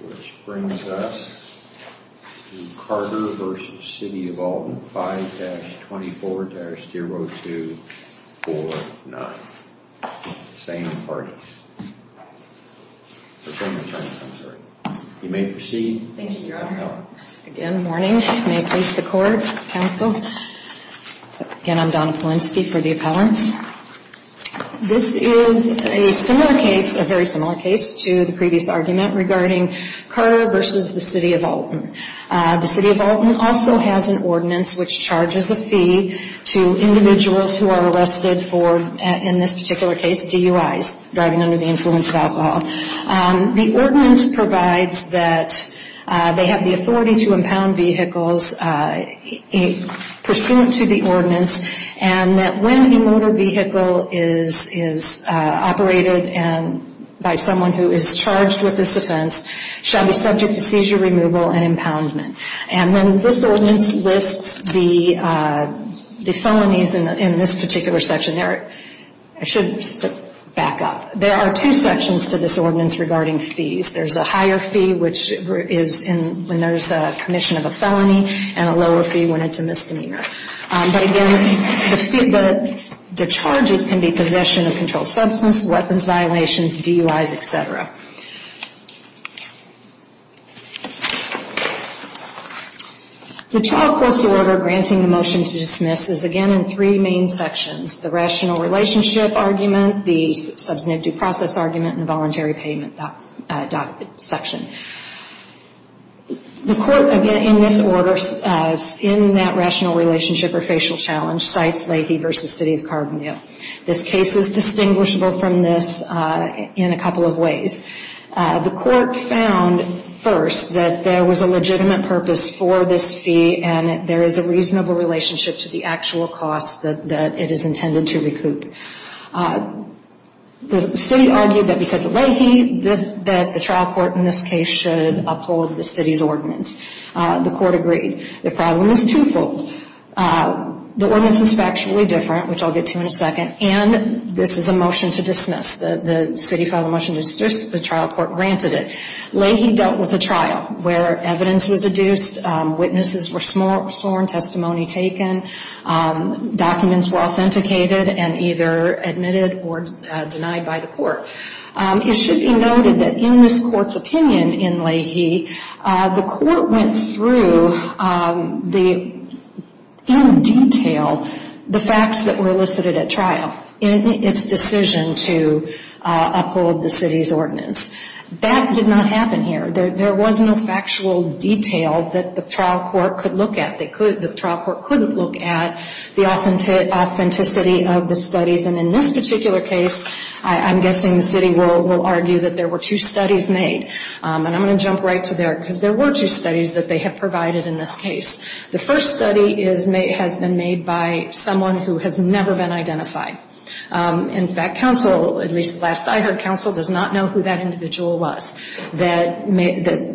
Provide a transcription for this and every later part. which brings us to Carter v. City of Alton, 5-24-0249. Same parties. You may proceed. Thank you, Your Honor. Again, morning. May it please the Court, Counsel. Again, I'm Donna Polinsky for the appellants. This is a similar case, a very similar case to the previous argument regarding Carter v. City of Alton. The City of Alton also has an ordinance which charges a fee to individuals who are arrested for, in this particular case, DUIs, driving under the influence of alcohol. The ordinance provides that they have the authority to impound vehicles pursuant to the ordinance and that when a motor vehicle is operated by someone who is charged with this offense, shall be subject to seizure removal and impoundment. And then this ordinance lists the felonies in this particular section. I should back up. There are two sections to this ordinance regarding fees. There's a higher fee which is when there's a commission of a felony and a lower fee when it's a misdemeanor. But again, the charges can be possession of controlled substance, weapons violations, DUIs, etc. The trial court's order granting the motion to dismiss is, again, in three main sections. The rational relationship argument, the substantive due process argument, and the voluntary payment section. The court, again, in this order, in that rational relationship or facial challenge, cites Leahy v. City of Carbonell. This case is distinguishable from this in a couple of ways. The court found, first, that there was a legitimate purpose for this fee and there is a reasonable relationship to the actual cost that it is intended to recoup. The city argued that because of Leahy, the trial court in this case should uphold the city's ordinance. The court agreed. The problem is twofold. The ordinance is factually different, which I'll get to in a second, and this is a motion to dismiss. The city filed a motion to dismiss. The trial court granted it. Leahy dealt with a trial where evidence was adduced, witnesses were sworn, testimony taken, documents were authenticated and either admitted or denied by the court. It should be noted that in this court's opinion in Leahy, the court went through in detail the facts that were elicited at trial in its decision to uphold the city's ordinance. That did not happen here. There was no factual detail that the trial court could look at. The trial court couldn't look at the authenticity of the studies. And in this particular case, I'm guessing the city will argue that there were two studies made. And I'm going to jump right to there because there were two studies that they have provided in this case. The first study has been made by someone who has never been identified. In fact, counsel, at least last I heard, counsel does not know who that individual was that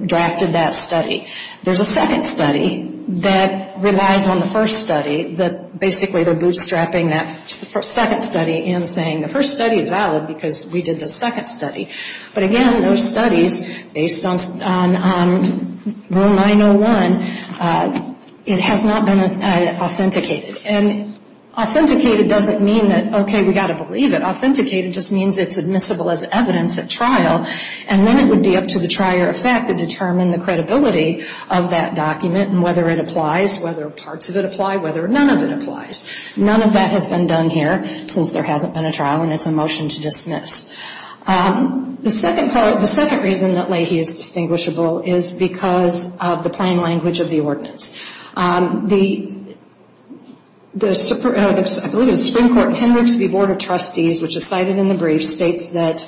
drafted that study. There's a second study that relies on the first study that basically they're bootstrapping that second study in saying the first study is valid because we did the second study. But again, those studies, based on Rule 901, it has not been authenticated. And authenticated doesn't mean that, okay, we've got to believe it. Authenticated just means it's admissible as evidence at trial. And then it would be up to the trier of fact to determine the credibility of that document and whether it applies, whether parts of it apply, whether none of it applies. None of that has been done here since there hasn't been a trial, and it's a motion to dismiss. The second reason that Leahy is distinguishable is because of the plain language of the ordinance. The, I believe it was the Supreme Court, Henricks v. Board of Trustees, which is cited in the brief, states that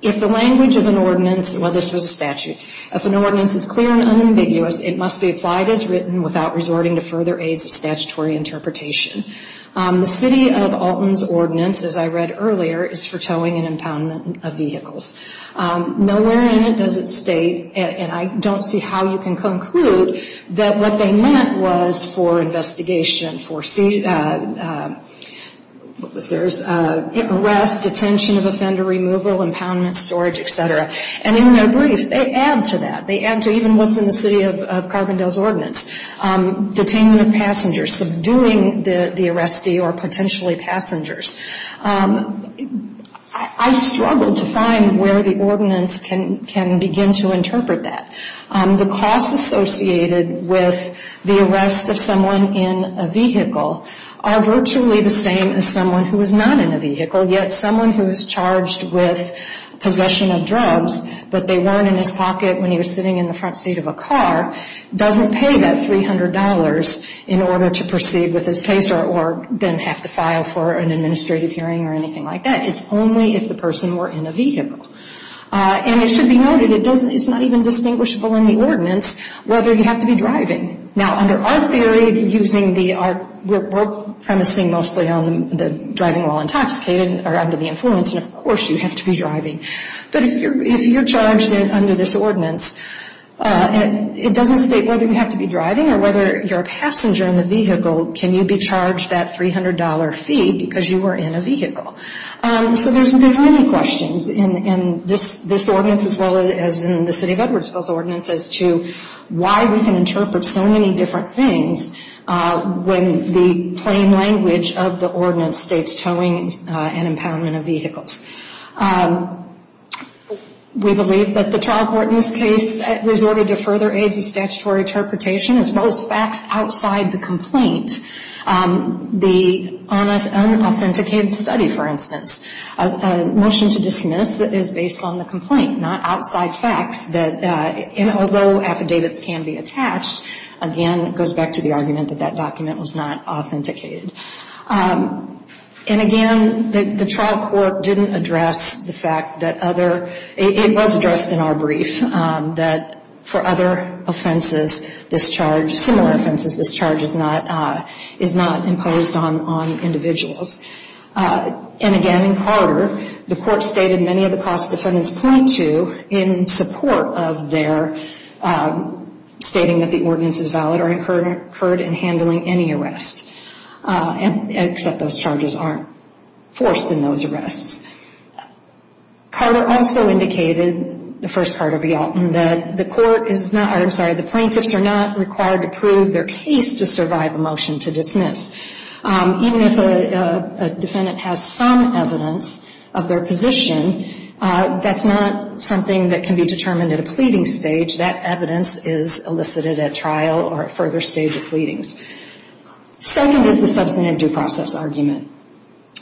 if the language of an ordinance, well, this was a statute, if an ordinance is clear and unambiguous, it must be applied as written without resorting to further aids of statutory interpretation. The city of Alton's ordinance, as I read earlier, is for towing and impoundment of vehicles. Nowhere in it does it state, and I don't see how you can conclude, that what they meant was for investigation, for, what was theirs, arrest, detention of offender, removal, impoundment, storage, et cetera. And in their brief, they add to that. They add to even what's in the city of Carbondale's ordinance, detainment of passengers, subduing the arrestee or potentially passengers. I struggle to find where the ordinance can begin to interpret that. The costs associated with the arrest of someone in a vehicle are virtually the same as someone who is not in a vehicle, yet someone who is charged with possession of drugs, but they weren't in his pocket when he was sitting in the front seat of a car, doesn't pay that $300 in order to proceed with his case or then have to file for an administrative hearing or anything like that. It's only if the person were in a vehicle. And it should be noted, it's not even distinguishable in the ordinance whether you have to be driving. Now, under our theory, we're premising mostly on the driving while intoxicated or under the influence, and of course you have to be driving. But if you're charged under this ordinance, it doesn't state whether you have to be driving or whether you're a passenger in the vehicle, can you be charged that $300 fee because you were in a vehicle. So there's many questions in this ordinance as well as in the City of Edwardsville's ordinance as to why we can interpret so many different things when the plain language of the ordinance states towing and empowerment of vehicles. We believe that the trial court in this case resorted to further aids of statutory interpretation as well as facts outside the complaint. The unauthenticated study, for instance, a motion to dismiss is based on the complaint, not outside facts that although affidavits can be attached, again, it goes back to the argument that that document was not authenticated. And again, the trial court didn't address the fact that other, it was addressed in our brief that for other offenses, this charge, similar offenses, this charge is not imposed on individuals. And again, in Carter, the court stated many of the cost defendants point to in support of their stating that the ordinance is valid or incurred in handling any arrest, except those charges aren't forced in those arrests. Carter also indicated, the first Carter v. Alton, that the court is not, I'm sorry, the plaintiffs are not required to prove their case to survive a motion to dismiss. Even if a defendant has some evidence of their position, that's not something that can be determined at a pleading stage. That evidence is elicited at trial or a further stage of pleadings. Second is the substantive due process argument.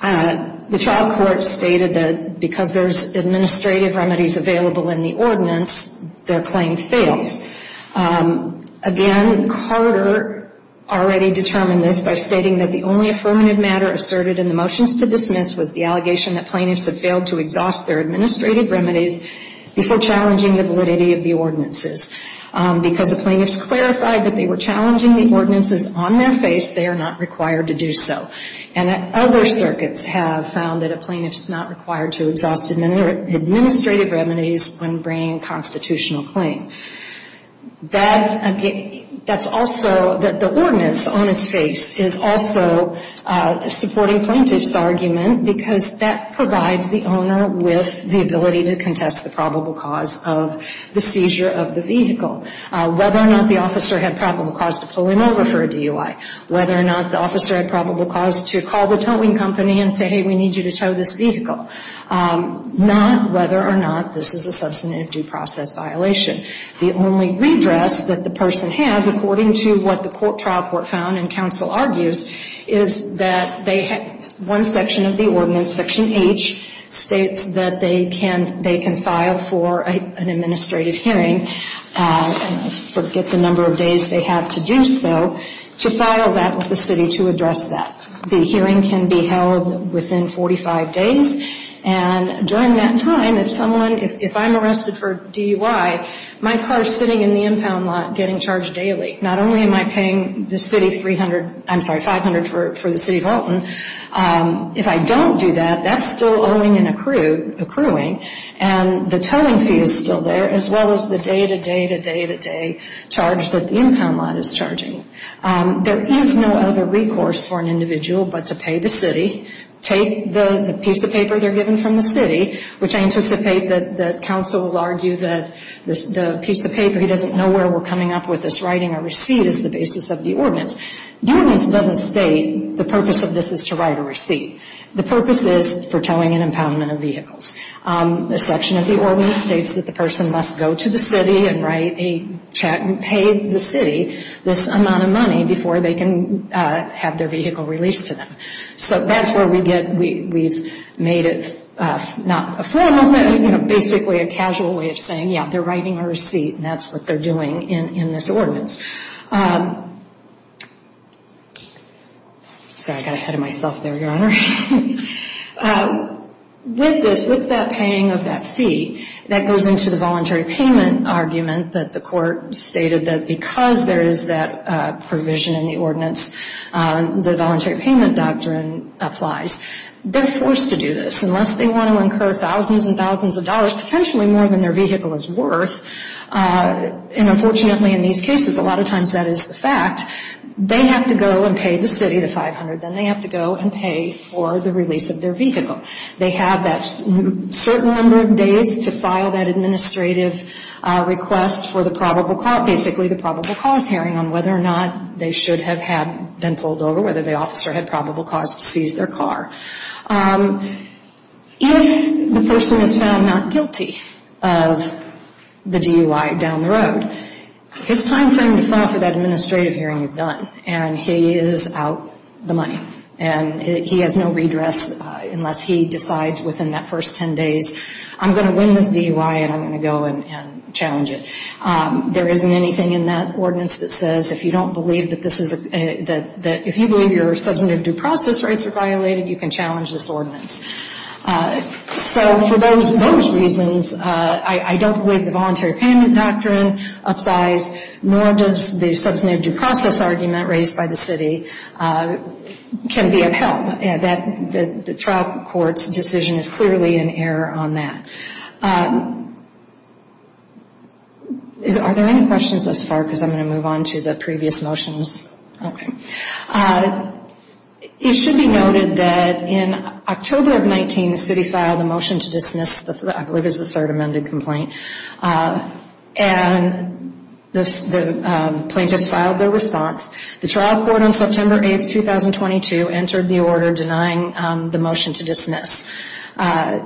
The trial court stated that because there's administrative remedies available in the ordinance, their claim fails. Again, Carter already determined this by stating that the only affirmative matter asserted in the motions to dismiss was the allegation that plaintiffs have failed to exhaust their administrative remedies before challenging the validity of the ordinances. Because the plaintiffs clarified that they were challenging the ordinances on their face, they are not required to do so. And other circuits have found that a plaintiff's not required to exhaust administrative remedies when bringing a constitutional claim. That's also, that the ordinance on its face is also supporting plaintiff's argument because that provides the owner with the ability to contest the probable cause of the seizure of the vehicle. Whether or not the officer had probable cause to pull him over for a DUI, whether or not the officer had probable cause to call the towing company and say, hey, we need you to tow this vehicle. Not whether or not this is a substantive due process violation. The only redress that the person has, according to what the trial court found and counsel argues, is that they have one section of the ordinance, Section H, states that they can file for an administrative hearing, forget the number of days they have to do so, to file that with the city to address that. The hearing can be held within 45 days. And during that time, if someone, if I'm arrested for DUI, my car is sitting in the impound lot getting charged daily. Not only am I paying the city 300, I'm sorry, 500 for the city of Alton, if I don't do that, that's still owing and accruing. And the towing fee is still there, as well as the day-to-day-to-day-to-day charge that the impound lot is charging. There is no other recourse for an individual but to pay the city, take the piece of paper they're given from the city, which I anticipate that counsel will argue that the piece of paper, he doesn't know where we're coming up with this, writing a receipt is the basis of the ordinance. The ordinance doesn't state the purpose of this is to write a receipt. The purpose is for towing and impoundment of vehicles. The section of the ordinance states that the person must go to the city and write a check and pay the city this amount of money before they can have their vehicle released to them. So that's where we get, we've made it not a formal, but basically a casual way of saying, yeah, they're writing a receipt and that's what they're doing in this ordinance. Sorry, I got ahead of myself there, Your Honor. With this, with that paying of that fee, that goes into the voluntary payment argument that the court stated that because there is that provision in the ordinance, the voluntary payment doctrine applies. They're forced to do this. Unless they want to incur thousands and thousands of dollars, potentially more than their vehicle is worth, and unfortunately in these cases a lot of times that is the fact, they have to go and pay the city the 500. Then they have to go and pay for the release of their vehicle. They have that certain number of days to file that administrative request for the probable cause, basically the probable cause hearing on whether or not they should have had been pulled over, whether the officer had probable cause to seize their car. If the person is found not guilty of the DUI down the road, his timeframe to file for that administrative hearing is done and he is out the money. And he has no redress unless he decides within that first 10 days, I'm going to win this DUI and I'm going to go and challenge it. There isn't anything in that ordinance that says if you don't believe that this is a, that if you believe your substantive due process rights are violated, you can challenge this ordinance. So for those reasons, I don't believe the voluntary payment doctrine applies, nor does the substantive due process argument raised by the city can be upheld. The trial court's decision is clearly in error on that. Are there any questions thus far? Because I'm going to move on to the previous motions. Okay. It should be noted that in October of 19, the city filed a motion to dismiss, I believe it was the third amended complaint, and the plaintiffs filed their response. The trial court on September 8, 2022, entered the order denying the motion to dismiss. The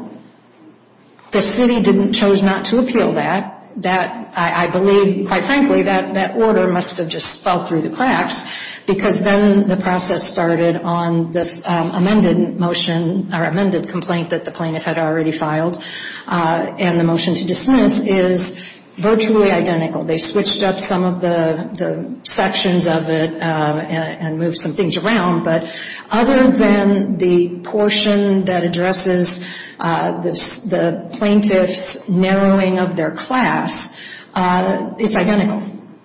city chose not to appeal that. I believe, quite frankly, that that order must have just fell through the cracks because then the process started on this amended motion, or amended complaint that the plaintiff had already filed, and the motion to dismiss is virtually identical. They switched up some of the sections of it and moved some things around, but other than the portion that addresses the plaintiff's narrowing of their class, it's identical,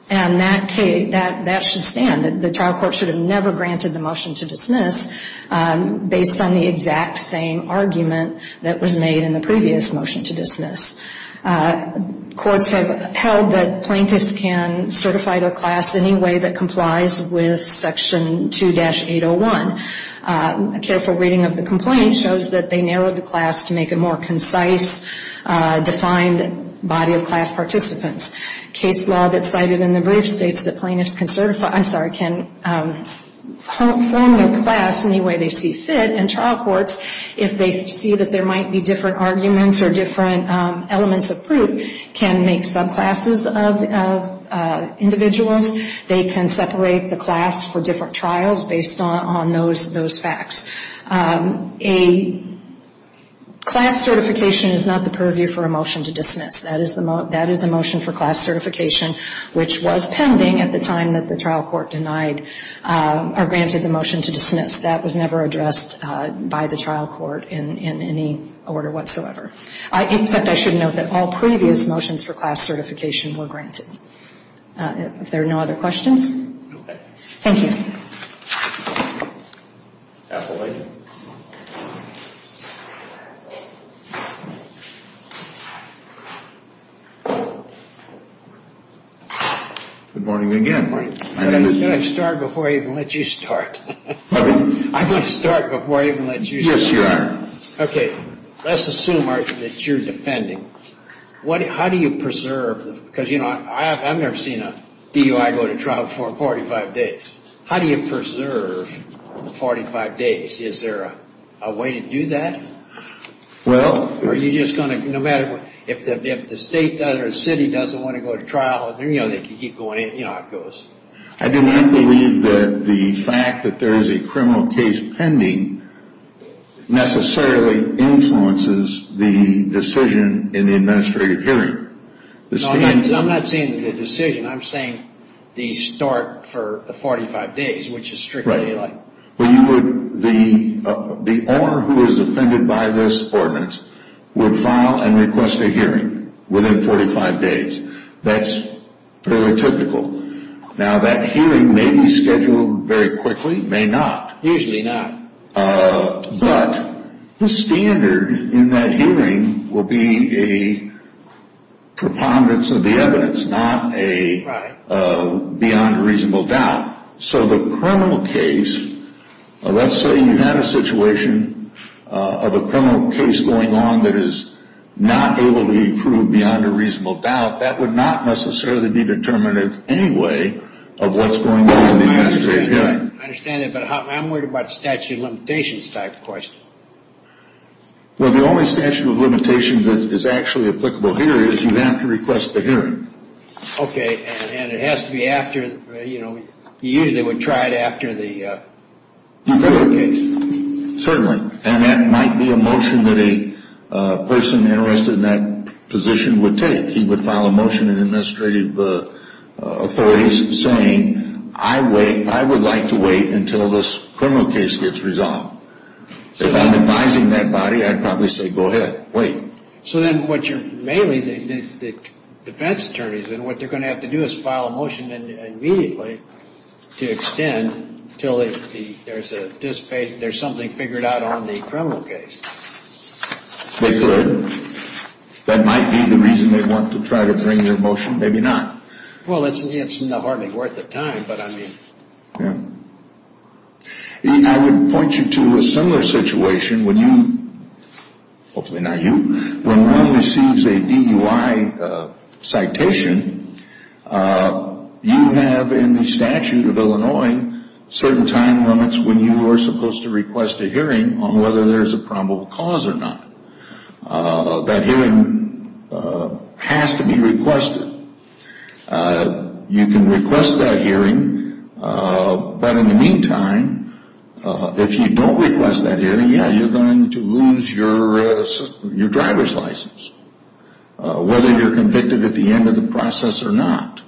and that should stand. The trial court should have never granted the motion to dismiss based on the exact same argument that was made in the previous motion to dismiss. Courts have held that plaintiffs can certify their class any way that complies with Section 2-801. A careful reading of the complaint shows that they narrowed the class to make a more concise, defined body of class participants. Case law that's cited in the brief states that plaintiffs can certify, I'm sorry, can form their class any way they see fit, and trial courts, if they see that there might be different arguments or different elements of proof, can make subclasses of individuals. They can separate the class for different trials based on those facts. A class certification is not the purview for a motion to dismiss. That is a motion for class certification, which was pending at the time that the trial court denied or granted the motion to dismiss. That was never addressed by the trial court in any order whatsoever, except I should note that all previous motions for class certification were granted. If there are no other questions? Okay. Thank you. Good morning again. Good morning. Can I start before I even let you start? I'm going to start before I even let you start. Yes, you are. Okay. Let's assume that you're defending. How do you preserve? Because, you know, I've never seen a DUI go to trial before in 45 days. How do you preserve the 45 days? Is there a way to do that? Well. Are you just going to, no matter what, if the state or the city doesn't want to go to trial, you know, they can keep going, you know, it goes. I do not believe that the fact that there is a criminal case pending necessarily influences the decision in the administrative hearing. I'm not saying the decision. I'm saying the start for the 45 days, which is strictly like. Right. The owner who is offended by this ordinance would file and request a hearing within 45 days. That's fairly typical. Now, that hearing may be scheduled very quickly, may not. Usually not. But the standard in that hearing will be a preponderance of the evidence, not a beyond a reasonable doubt. So the criminal case, let's say you had a situation of a criminal case going on that is not able to be proved beyond a reasonable doubt, that would not necessarily be determinative anyway of what's going on in the administrative hearing. I understand that. But I'm worried about statute of limitations type questions. Well, the only statute of limitations that is actually applicable here is you have to request the hearing. Okay. And it has to be after, you know, you usually would try it after the criminal case. Certainly. And that might be a motion that a person interested in that position would take. He would file a motion in administrative authorities saying, I would like to wait until this criminal case gets resolved. If I'm advising that body, I'd probably say, go ahead, wait. So then what you're mainly, the defense attorneys, then what they're going to have to do is file a motion immediately to extend until there's something figured out on the criminal case. They could. That might be the reason they want to try to bring their motion. Maybe not. Well, it's hardly worth the time, but I mean. Yeah. I would point you to a similar situation when you, hopefully not you, when one receives a DUI citation, you have in the statute of Illinois certain time limits when you are supposed to request a hearing on whether there's a probable cause or not. That hearing has to be requested. You can request that hearing, but in the meantime, if you don't request that hearing, yeah, you're going to lose your driver's license, whether you're convicted at the end of the process or not.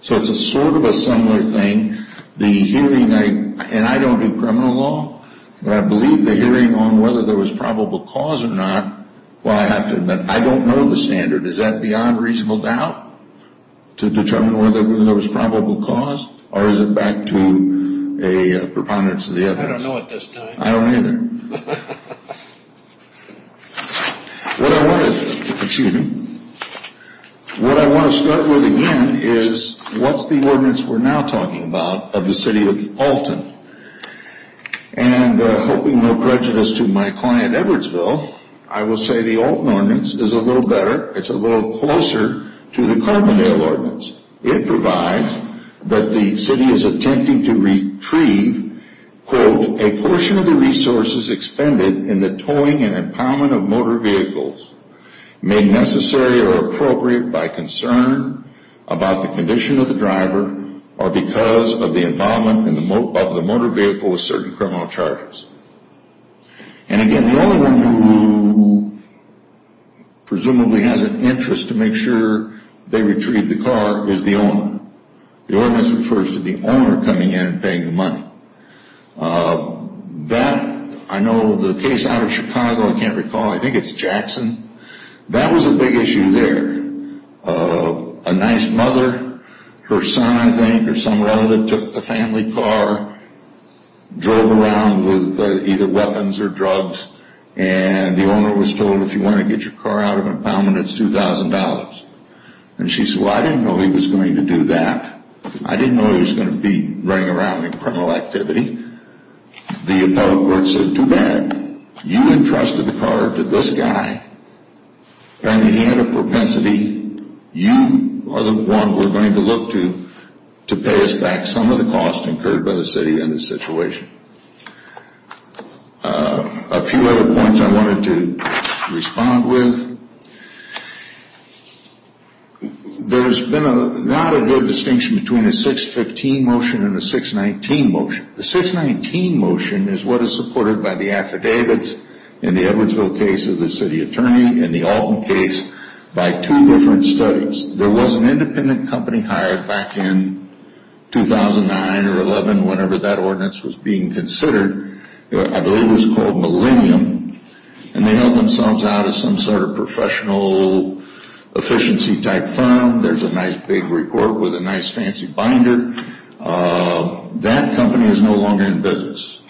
So it's a sort of a similar thing. And I don't do criminal law, but I believe the hearing on whether there was probable cause or not, well, I have to admit, I don't know the standard. Is that beyond reasonable doubt to determine whether there was probable cause or is it back to a preponderance of the evidence? I don't know at this time. I don't either. What I want to start with again is what's the ordinance we're now talking about of the city of Alton? And hoping no prejudice to my client Edwardsville, I will say the Alton ordinance is a little better. It's a little closer to the Carbondale ordinance. It provides that the city is attempting to retrieve, quote, a portion of the resources expended in the towing and empowerment of motor vehicles made necessary or appropriate by concern about the condition of the driver or because of the involvement of the motor vehicle with certain criminal charges. And again, the only one who presumably has an interest to make sure they retrieve the car is the owner. The ordinance refers to the owner coming in and paying the money. That, I know the case out of Chicago, I can't recall, I think it's Jackson, that was a big issue there. A nice mother, her son, I think, or some relative took the family car, drove around with either weapons or drugs, and the owner was told, if you want to get your car out of empowerment, it's $2,000. And she said, well, I didn't know he was going to do that. I didn't know he was going to be running around in criminal activity. The appellate court said, too bad. You entrusted the car to this guy. Apparently he had a propensity. You are the one we're going to look to to pay us back some of the costs incurred by the city in this situation. A few other points I wanted to respond with. There's been not a good distinction between a 615 motion and a 619 motion. The 619 motion is what is supported by the affidavits in the Edwardsville case of the city attorney and the Alton case by two different studies. There was an independent company hired back in 2009 or 11 whenever that ordinance was being considered. I believe it was called Millennium. And they helped themselves out as some sort of professional efficiency type firm. There's a nice big report with a nice fancy binder. That company is no longer in business.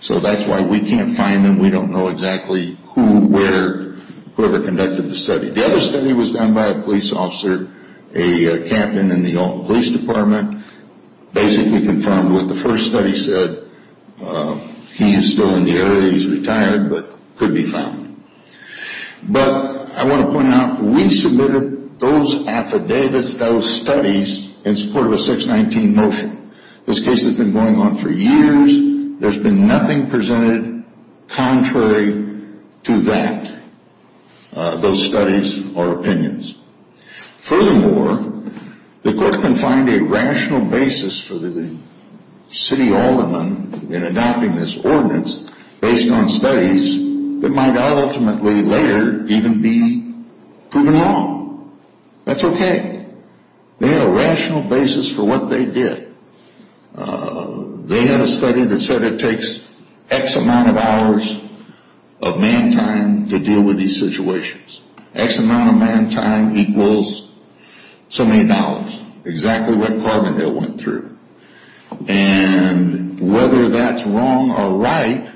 So that's why we can't find them. We don't know exactly who, where, whoever conducted the study. The other study was done by a police officer, a captain in the Alton Police Department. Basically confirmed what the first study said. He is still in the area. He's retired but could be found. But I want to point out we submitted those affidavits, those studies in support of a 619 motion. This case has been going on for years. There's been nothing presented contrary to that, those studies or opinions. Furthermore, the court can find a rational basis for the city alderman in adopting this ordinance based on studies that might ultimately later even be proven wrong. That's okay. They had a rational basis for what they did. They had a study that said it takes X amount of hours of man time to deal with these situations. X amount of man time equals so many dollars. Exactly what department they went through. And whether that's wrong or right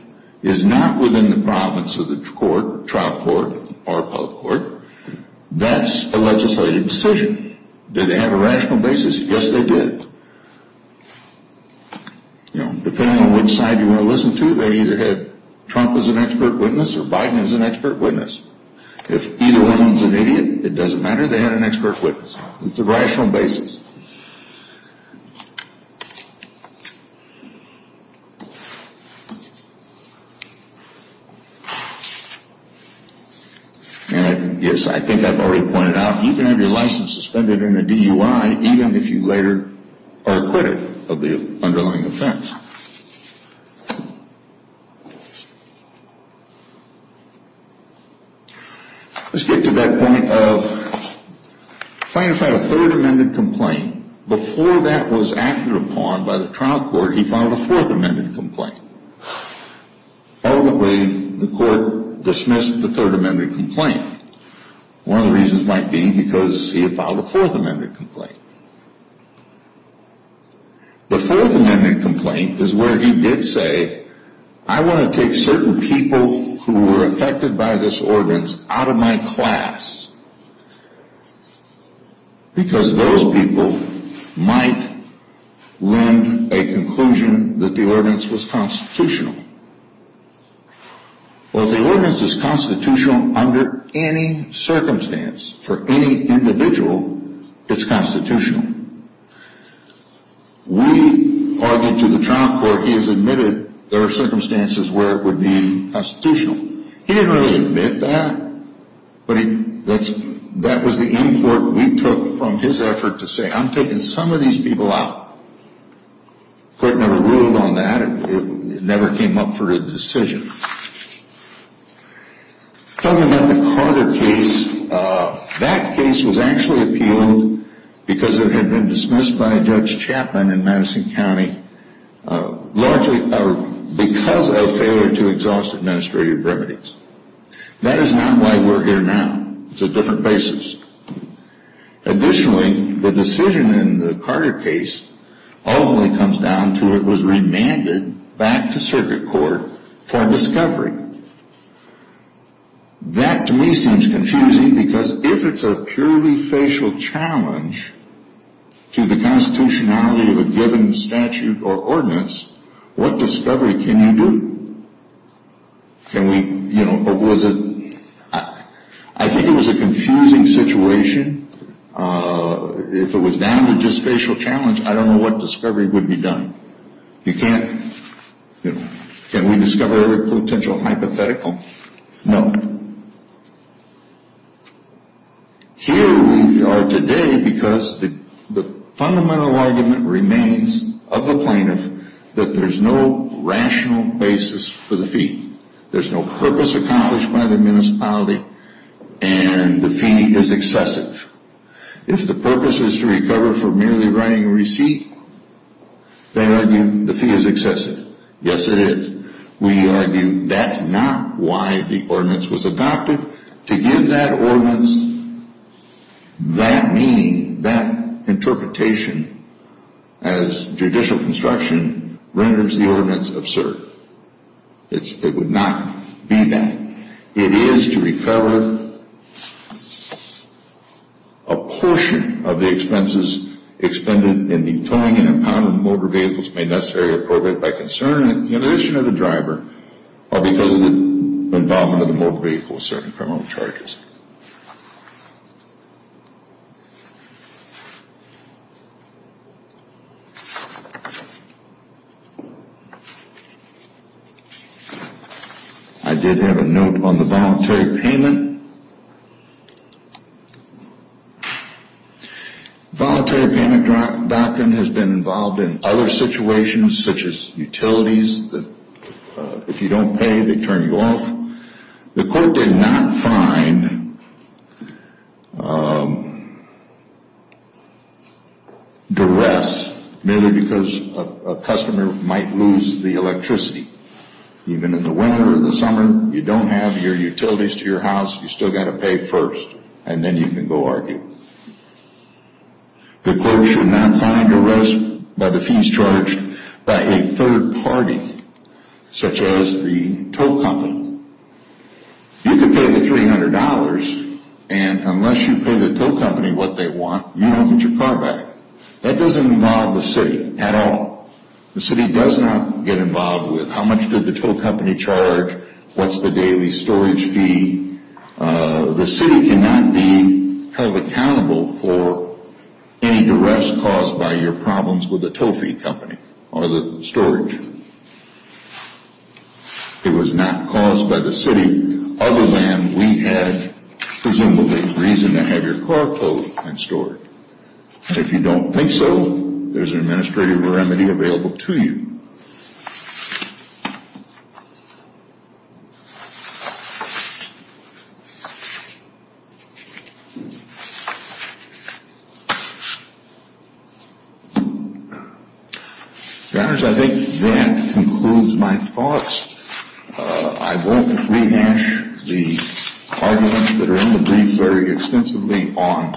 is not within the province of the court, trial court or public court. That's a legislative decision. Did they have a rational basis? Yes, they did. Depending on which side you want to listen to, they either had Trump as an expert witness or Biden as an expert witness. If either one is an idiot, it doesn't matter, they had an expert witness. It's a rational basis. And yes, I think I've already pointed out, you can have your license suspended in a DUI even if you later are acquitted of the underlying offense. Let's get to that point of plaintiff had a third amended complaint. Before that was acted upon by the trial court, he filed a fourth amended complaint. Ultimately, the court dismissed the third amended complaint. One of the reasons might be because he had filed a fourth amended complaint. The fourth amended complaint is where he did say, I want to take certain people who were affected by this ordinance out of my class. Because those people might lend a conclusion that the ordinance was constitutional. Well, if the ordinance is constitutional under any circumstance, for any individual, it's constitutional. We argued to the trial court, he has admitted there are circumstances where it would be constitutional. He didn't really admit that, but that was the import we took from his effort to say, I'm taking some of these people out. The court never ruled on that, it never came up for a decision. Talking about the Carter case, that case was actually appealed because it had been dismissed by Judge Chapman in Madison County. Largely because of failure to exhaust administrative remedies. That is not why we're here now, it's a different basis. Additionally, the decision in the Carter case ultimately comes down to it was remanded back to circuit court for discovery. That to me seems confusing because if it's a purely facial challenge to the constitutionality of a given statute or ordinance, what discovery can you do? Can we, you know, was it, I think it was a confusing situation. If it was down to just facial challenge, I don't know what discovery would be done. You can't, you know, can we discover every potential hypothetical? No. Here we are today because the fundamental argument remains of the plaintiff that there's no rational basis for the fee. There's no purpose accomplished by the municipality and the fee is excessive. If the purpose is to recover for merely writing a receipt, they argue the fee is excessive. Yes it is. We argue that's not why the ordinance was adopted. To give that ordinance that meaning, that interpretation as judicial construction renders the ordinance absurd. It would not be that. It is to recover a portion of the expenses expended in the towing and impounding of motor vehicles made necessary or appropriate by concern and the illusion of the driver or because of the involvement of the motor vehicle with certain criminal charges. I did have a note on the voluntary payment. Voluntary payment doctrine has been involved in other situations such as utilities that if you don't pay they turn you off. The court did not find duress merely because a customer might lose the electricity. Even in the winter or the summer, you don't have your utilities to your house, you still got to pay first and then you can go argue. The court should not find duress by the fees charged by a third party such as the tow company. You can pay the $300 and unless you pay the tow company what they want, you don't get your car back. That doesn't involve the city at all. The city does not get involved with how much did the tow company charge, what's the daily storage fee. The city cannot be held accountable for any duress caused by your problems with the tow fee company or the storage. It was not caused by the city other than we had presumably reason to have your car towed and stored. If you don't think so, there's an administrative remedy available to you. Your honors, I think that concludes my thoughts. I won't rehash the arguments that are in the brief very extensively on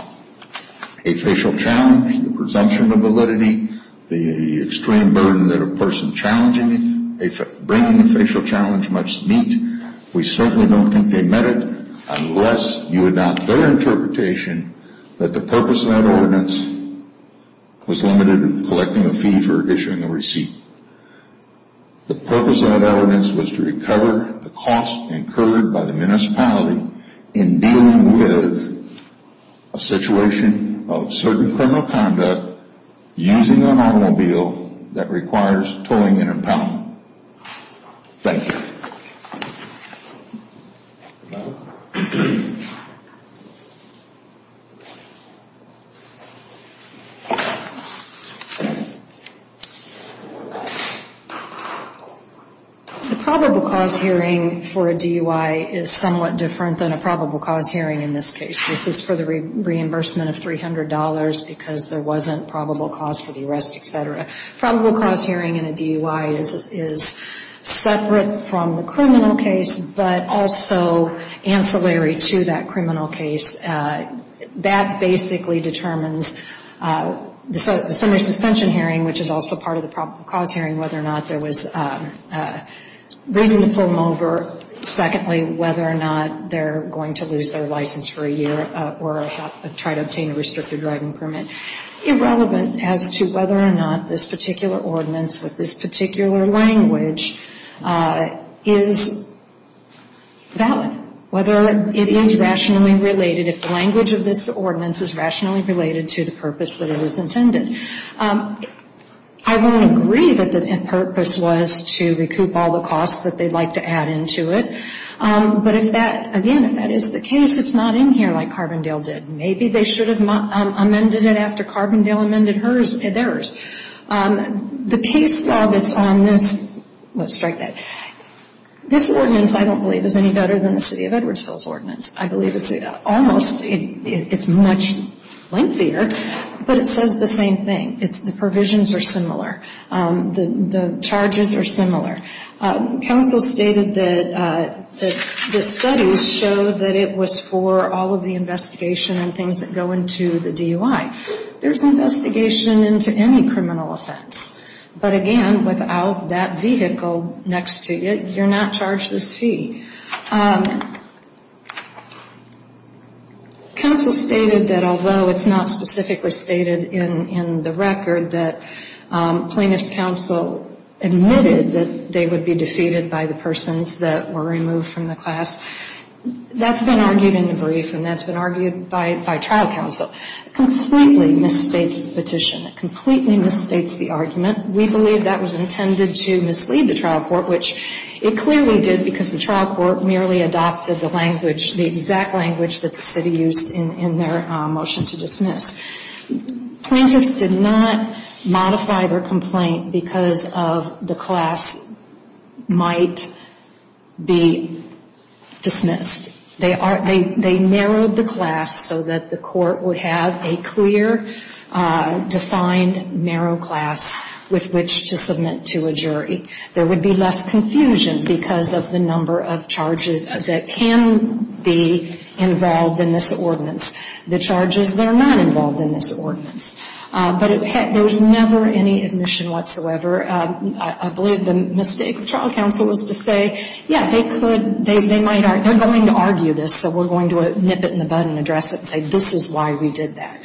a facial challenge, the presumption of validity, the extreme burden that a person bringing a facial challenge must meet. We certainly don't think they meant it unless you adopt their interpretation that the purpose of that ordinance was limited to collecting a fee for issuing a receipt. The purpose of that ordinance was to recover the cost incurred by the municipality in dealing with a situation of certain criminal conduct using an automobile that requires towing and impoundment. Thank you. The probable cause hearing for a DUI is somewhat different than a probable cause hearing in this case. This is for the reimbursement of $300 because there wasn't probable cause for the arrest, etc. Probable cause hearing in a DUI is separate from the criminal case but also ancillary to that criminal case. That basically determines the summary suspension hearing, which is also part of the probable cause hearing, whether or not there was reason to pull them over. Secondly, whether or not they're going to lose their license for a year or try to obtain a restricted driving permit. Irrelevant as to whether or not this particular ordinance with this particular language is valid. Whether it is rationally related, if the language of this ordinance is rationally related to the purpose that it was intended. I won't agree that the purpose was to recoup all the costs that they'd like to add into it. But if that, again, if that is the case, it's not in here like Carbondale did. Maybe they should have amended it after Carbondale amended theirs. The case law that's on this, let's strike that. This ordinance I don't believe is any better than the City of Edwardsville's ordinance. I believe it's almost, it's much lengthier, but it says the same thing. The provisions are similar. The charges are similar. Council stated that the studies showed that it was for all of the investigation and things that go into the DUI. There's investigation into any criminal offense. But again, without that vehicle next to you, you're not charged this fee. Council stated that although it's not specifically stated in the record that plaintiff's counsel admitted that they would be defeated by the persons that were removed from the class. That's been argued in the brief and that's been argued by trial counsel. It completely misstates the petition. It completely misstates the argument. We believe that was intended to mislead the trial court, which it clearly did because the trial court merely adopted the language, the exact language that the city used in their motion to dismiss. Plaintiffs did not modify their complaint because of the class might be dismissed. They narrowed the class so that the court would have a clear, defined, narrow class with which to submit to a jury. There would be less confusion because of the number of charges that can be involved in this ordinance. The charges that are not involved in this ordinance. But there was never any admission whatsoever. I believe the mistake of trial counsel was to say, yeah, they could, they might, they're going to argue this, so we're going to nip it in the bud and address it and say this is why we did that.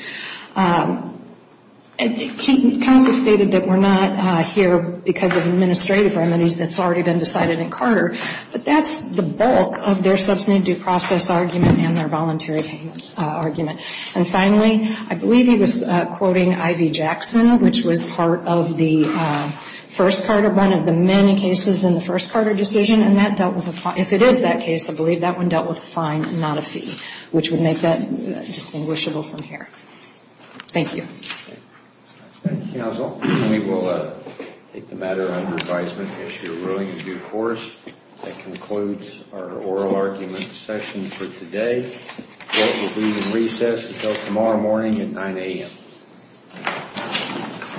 Counsel stated that we're not here because of administrative remedies that's already been decided in Carter. But that's the bulk of their substantive due process argument and their voluntary payment argument. And finally, I believe he was quoting I.V. Jackson, which was part of the first Carter, one of the many cases in the first Carter decision. And that dealt with a fine. If it is that case, I believe that one dealt with a fine, not a fee, which would make that distinguishable from here. Thank you. Thank you, counsel. We will take the matter under advisement if you're willing to do so. That concludes our oral argument session for today. Court will be in recess until tomorrow morning at 9 a.m.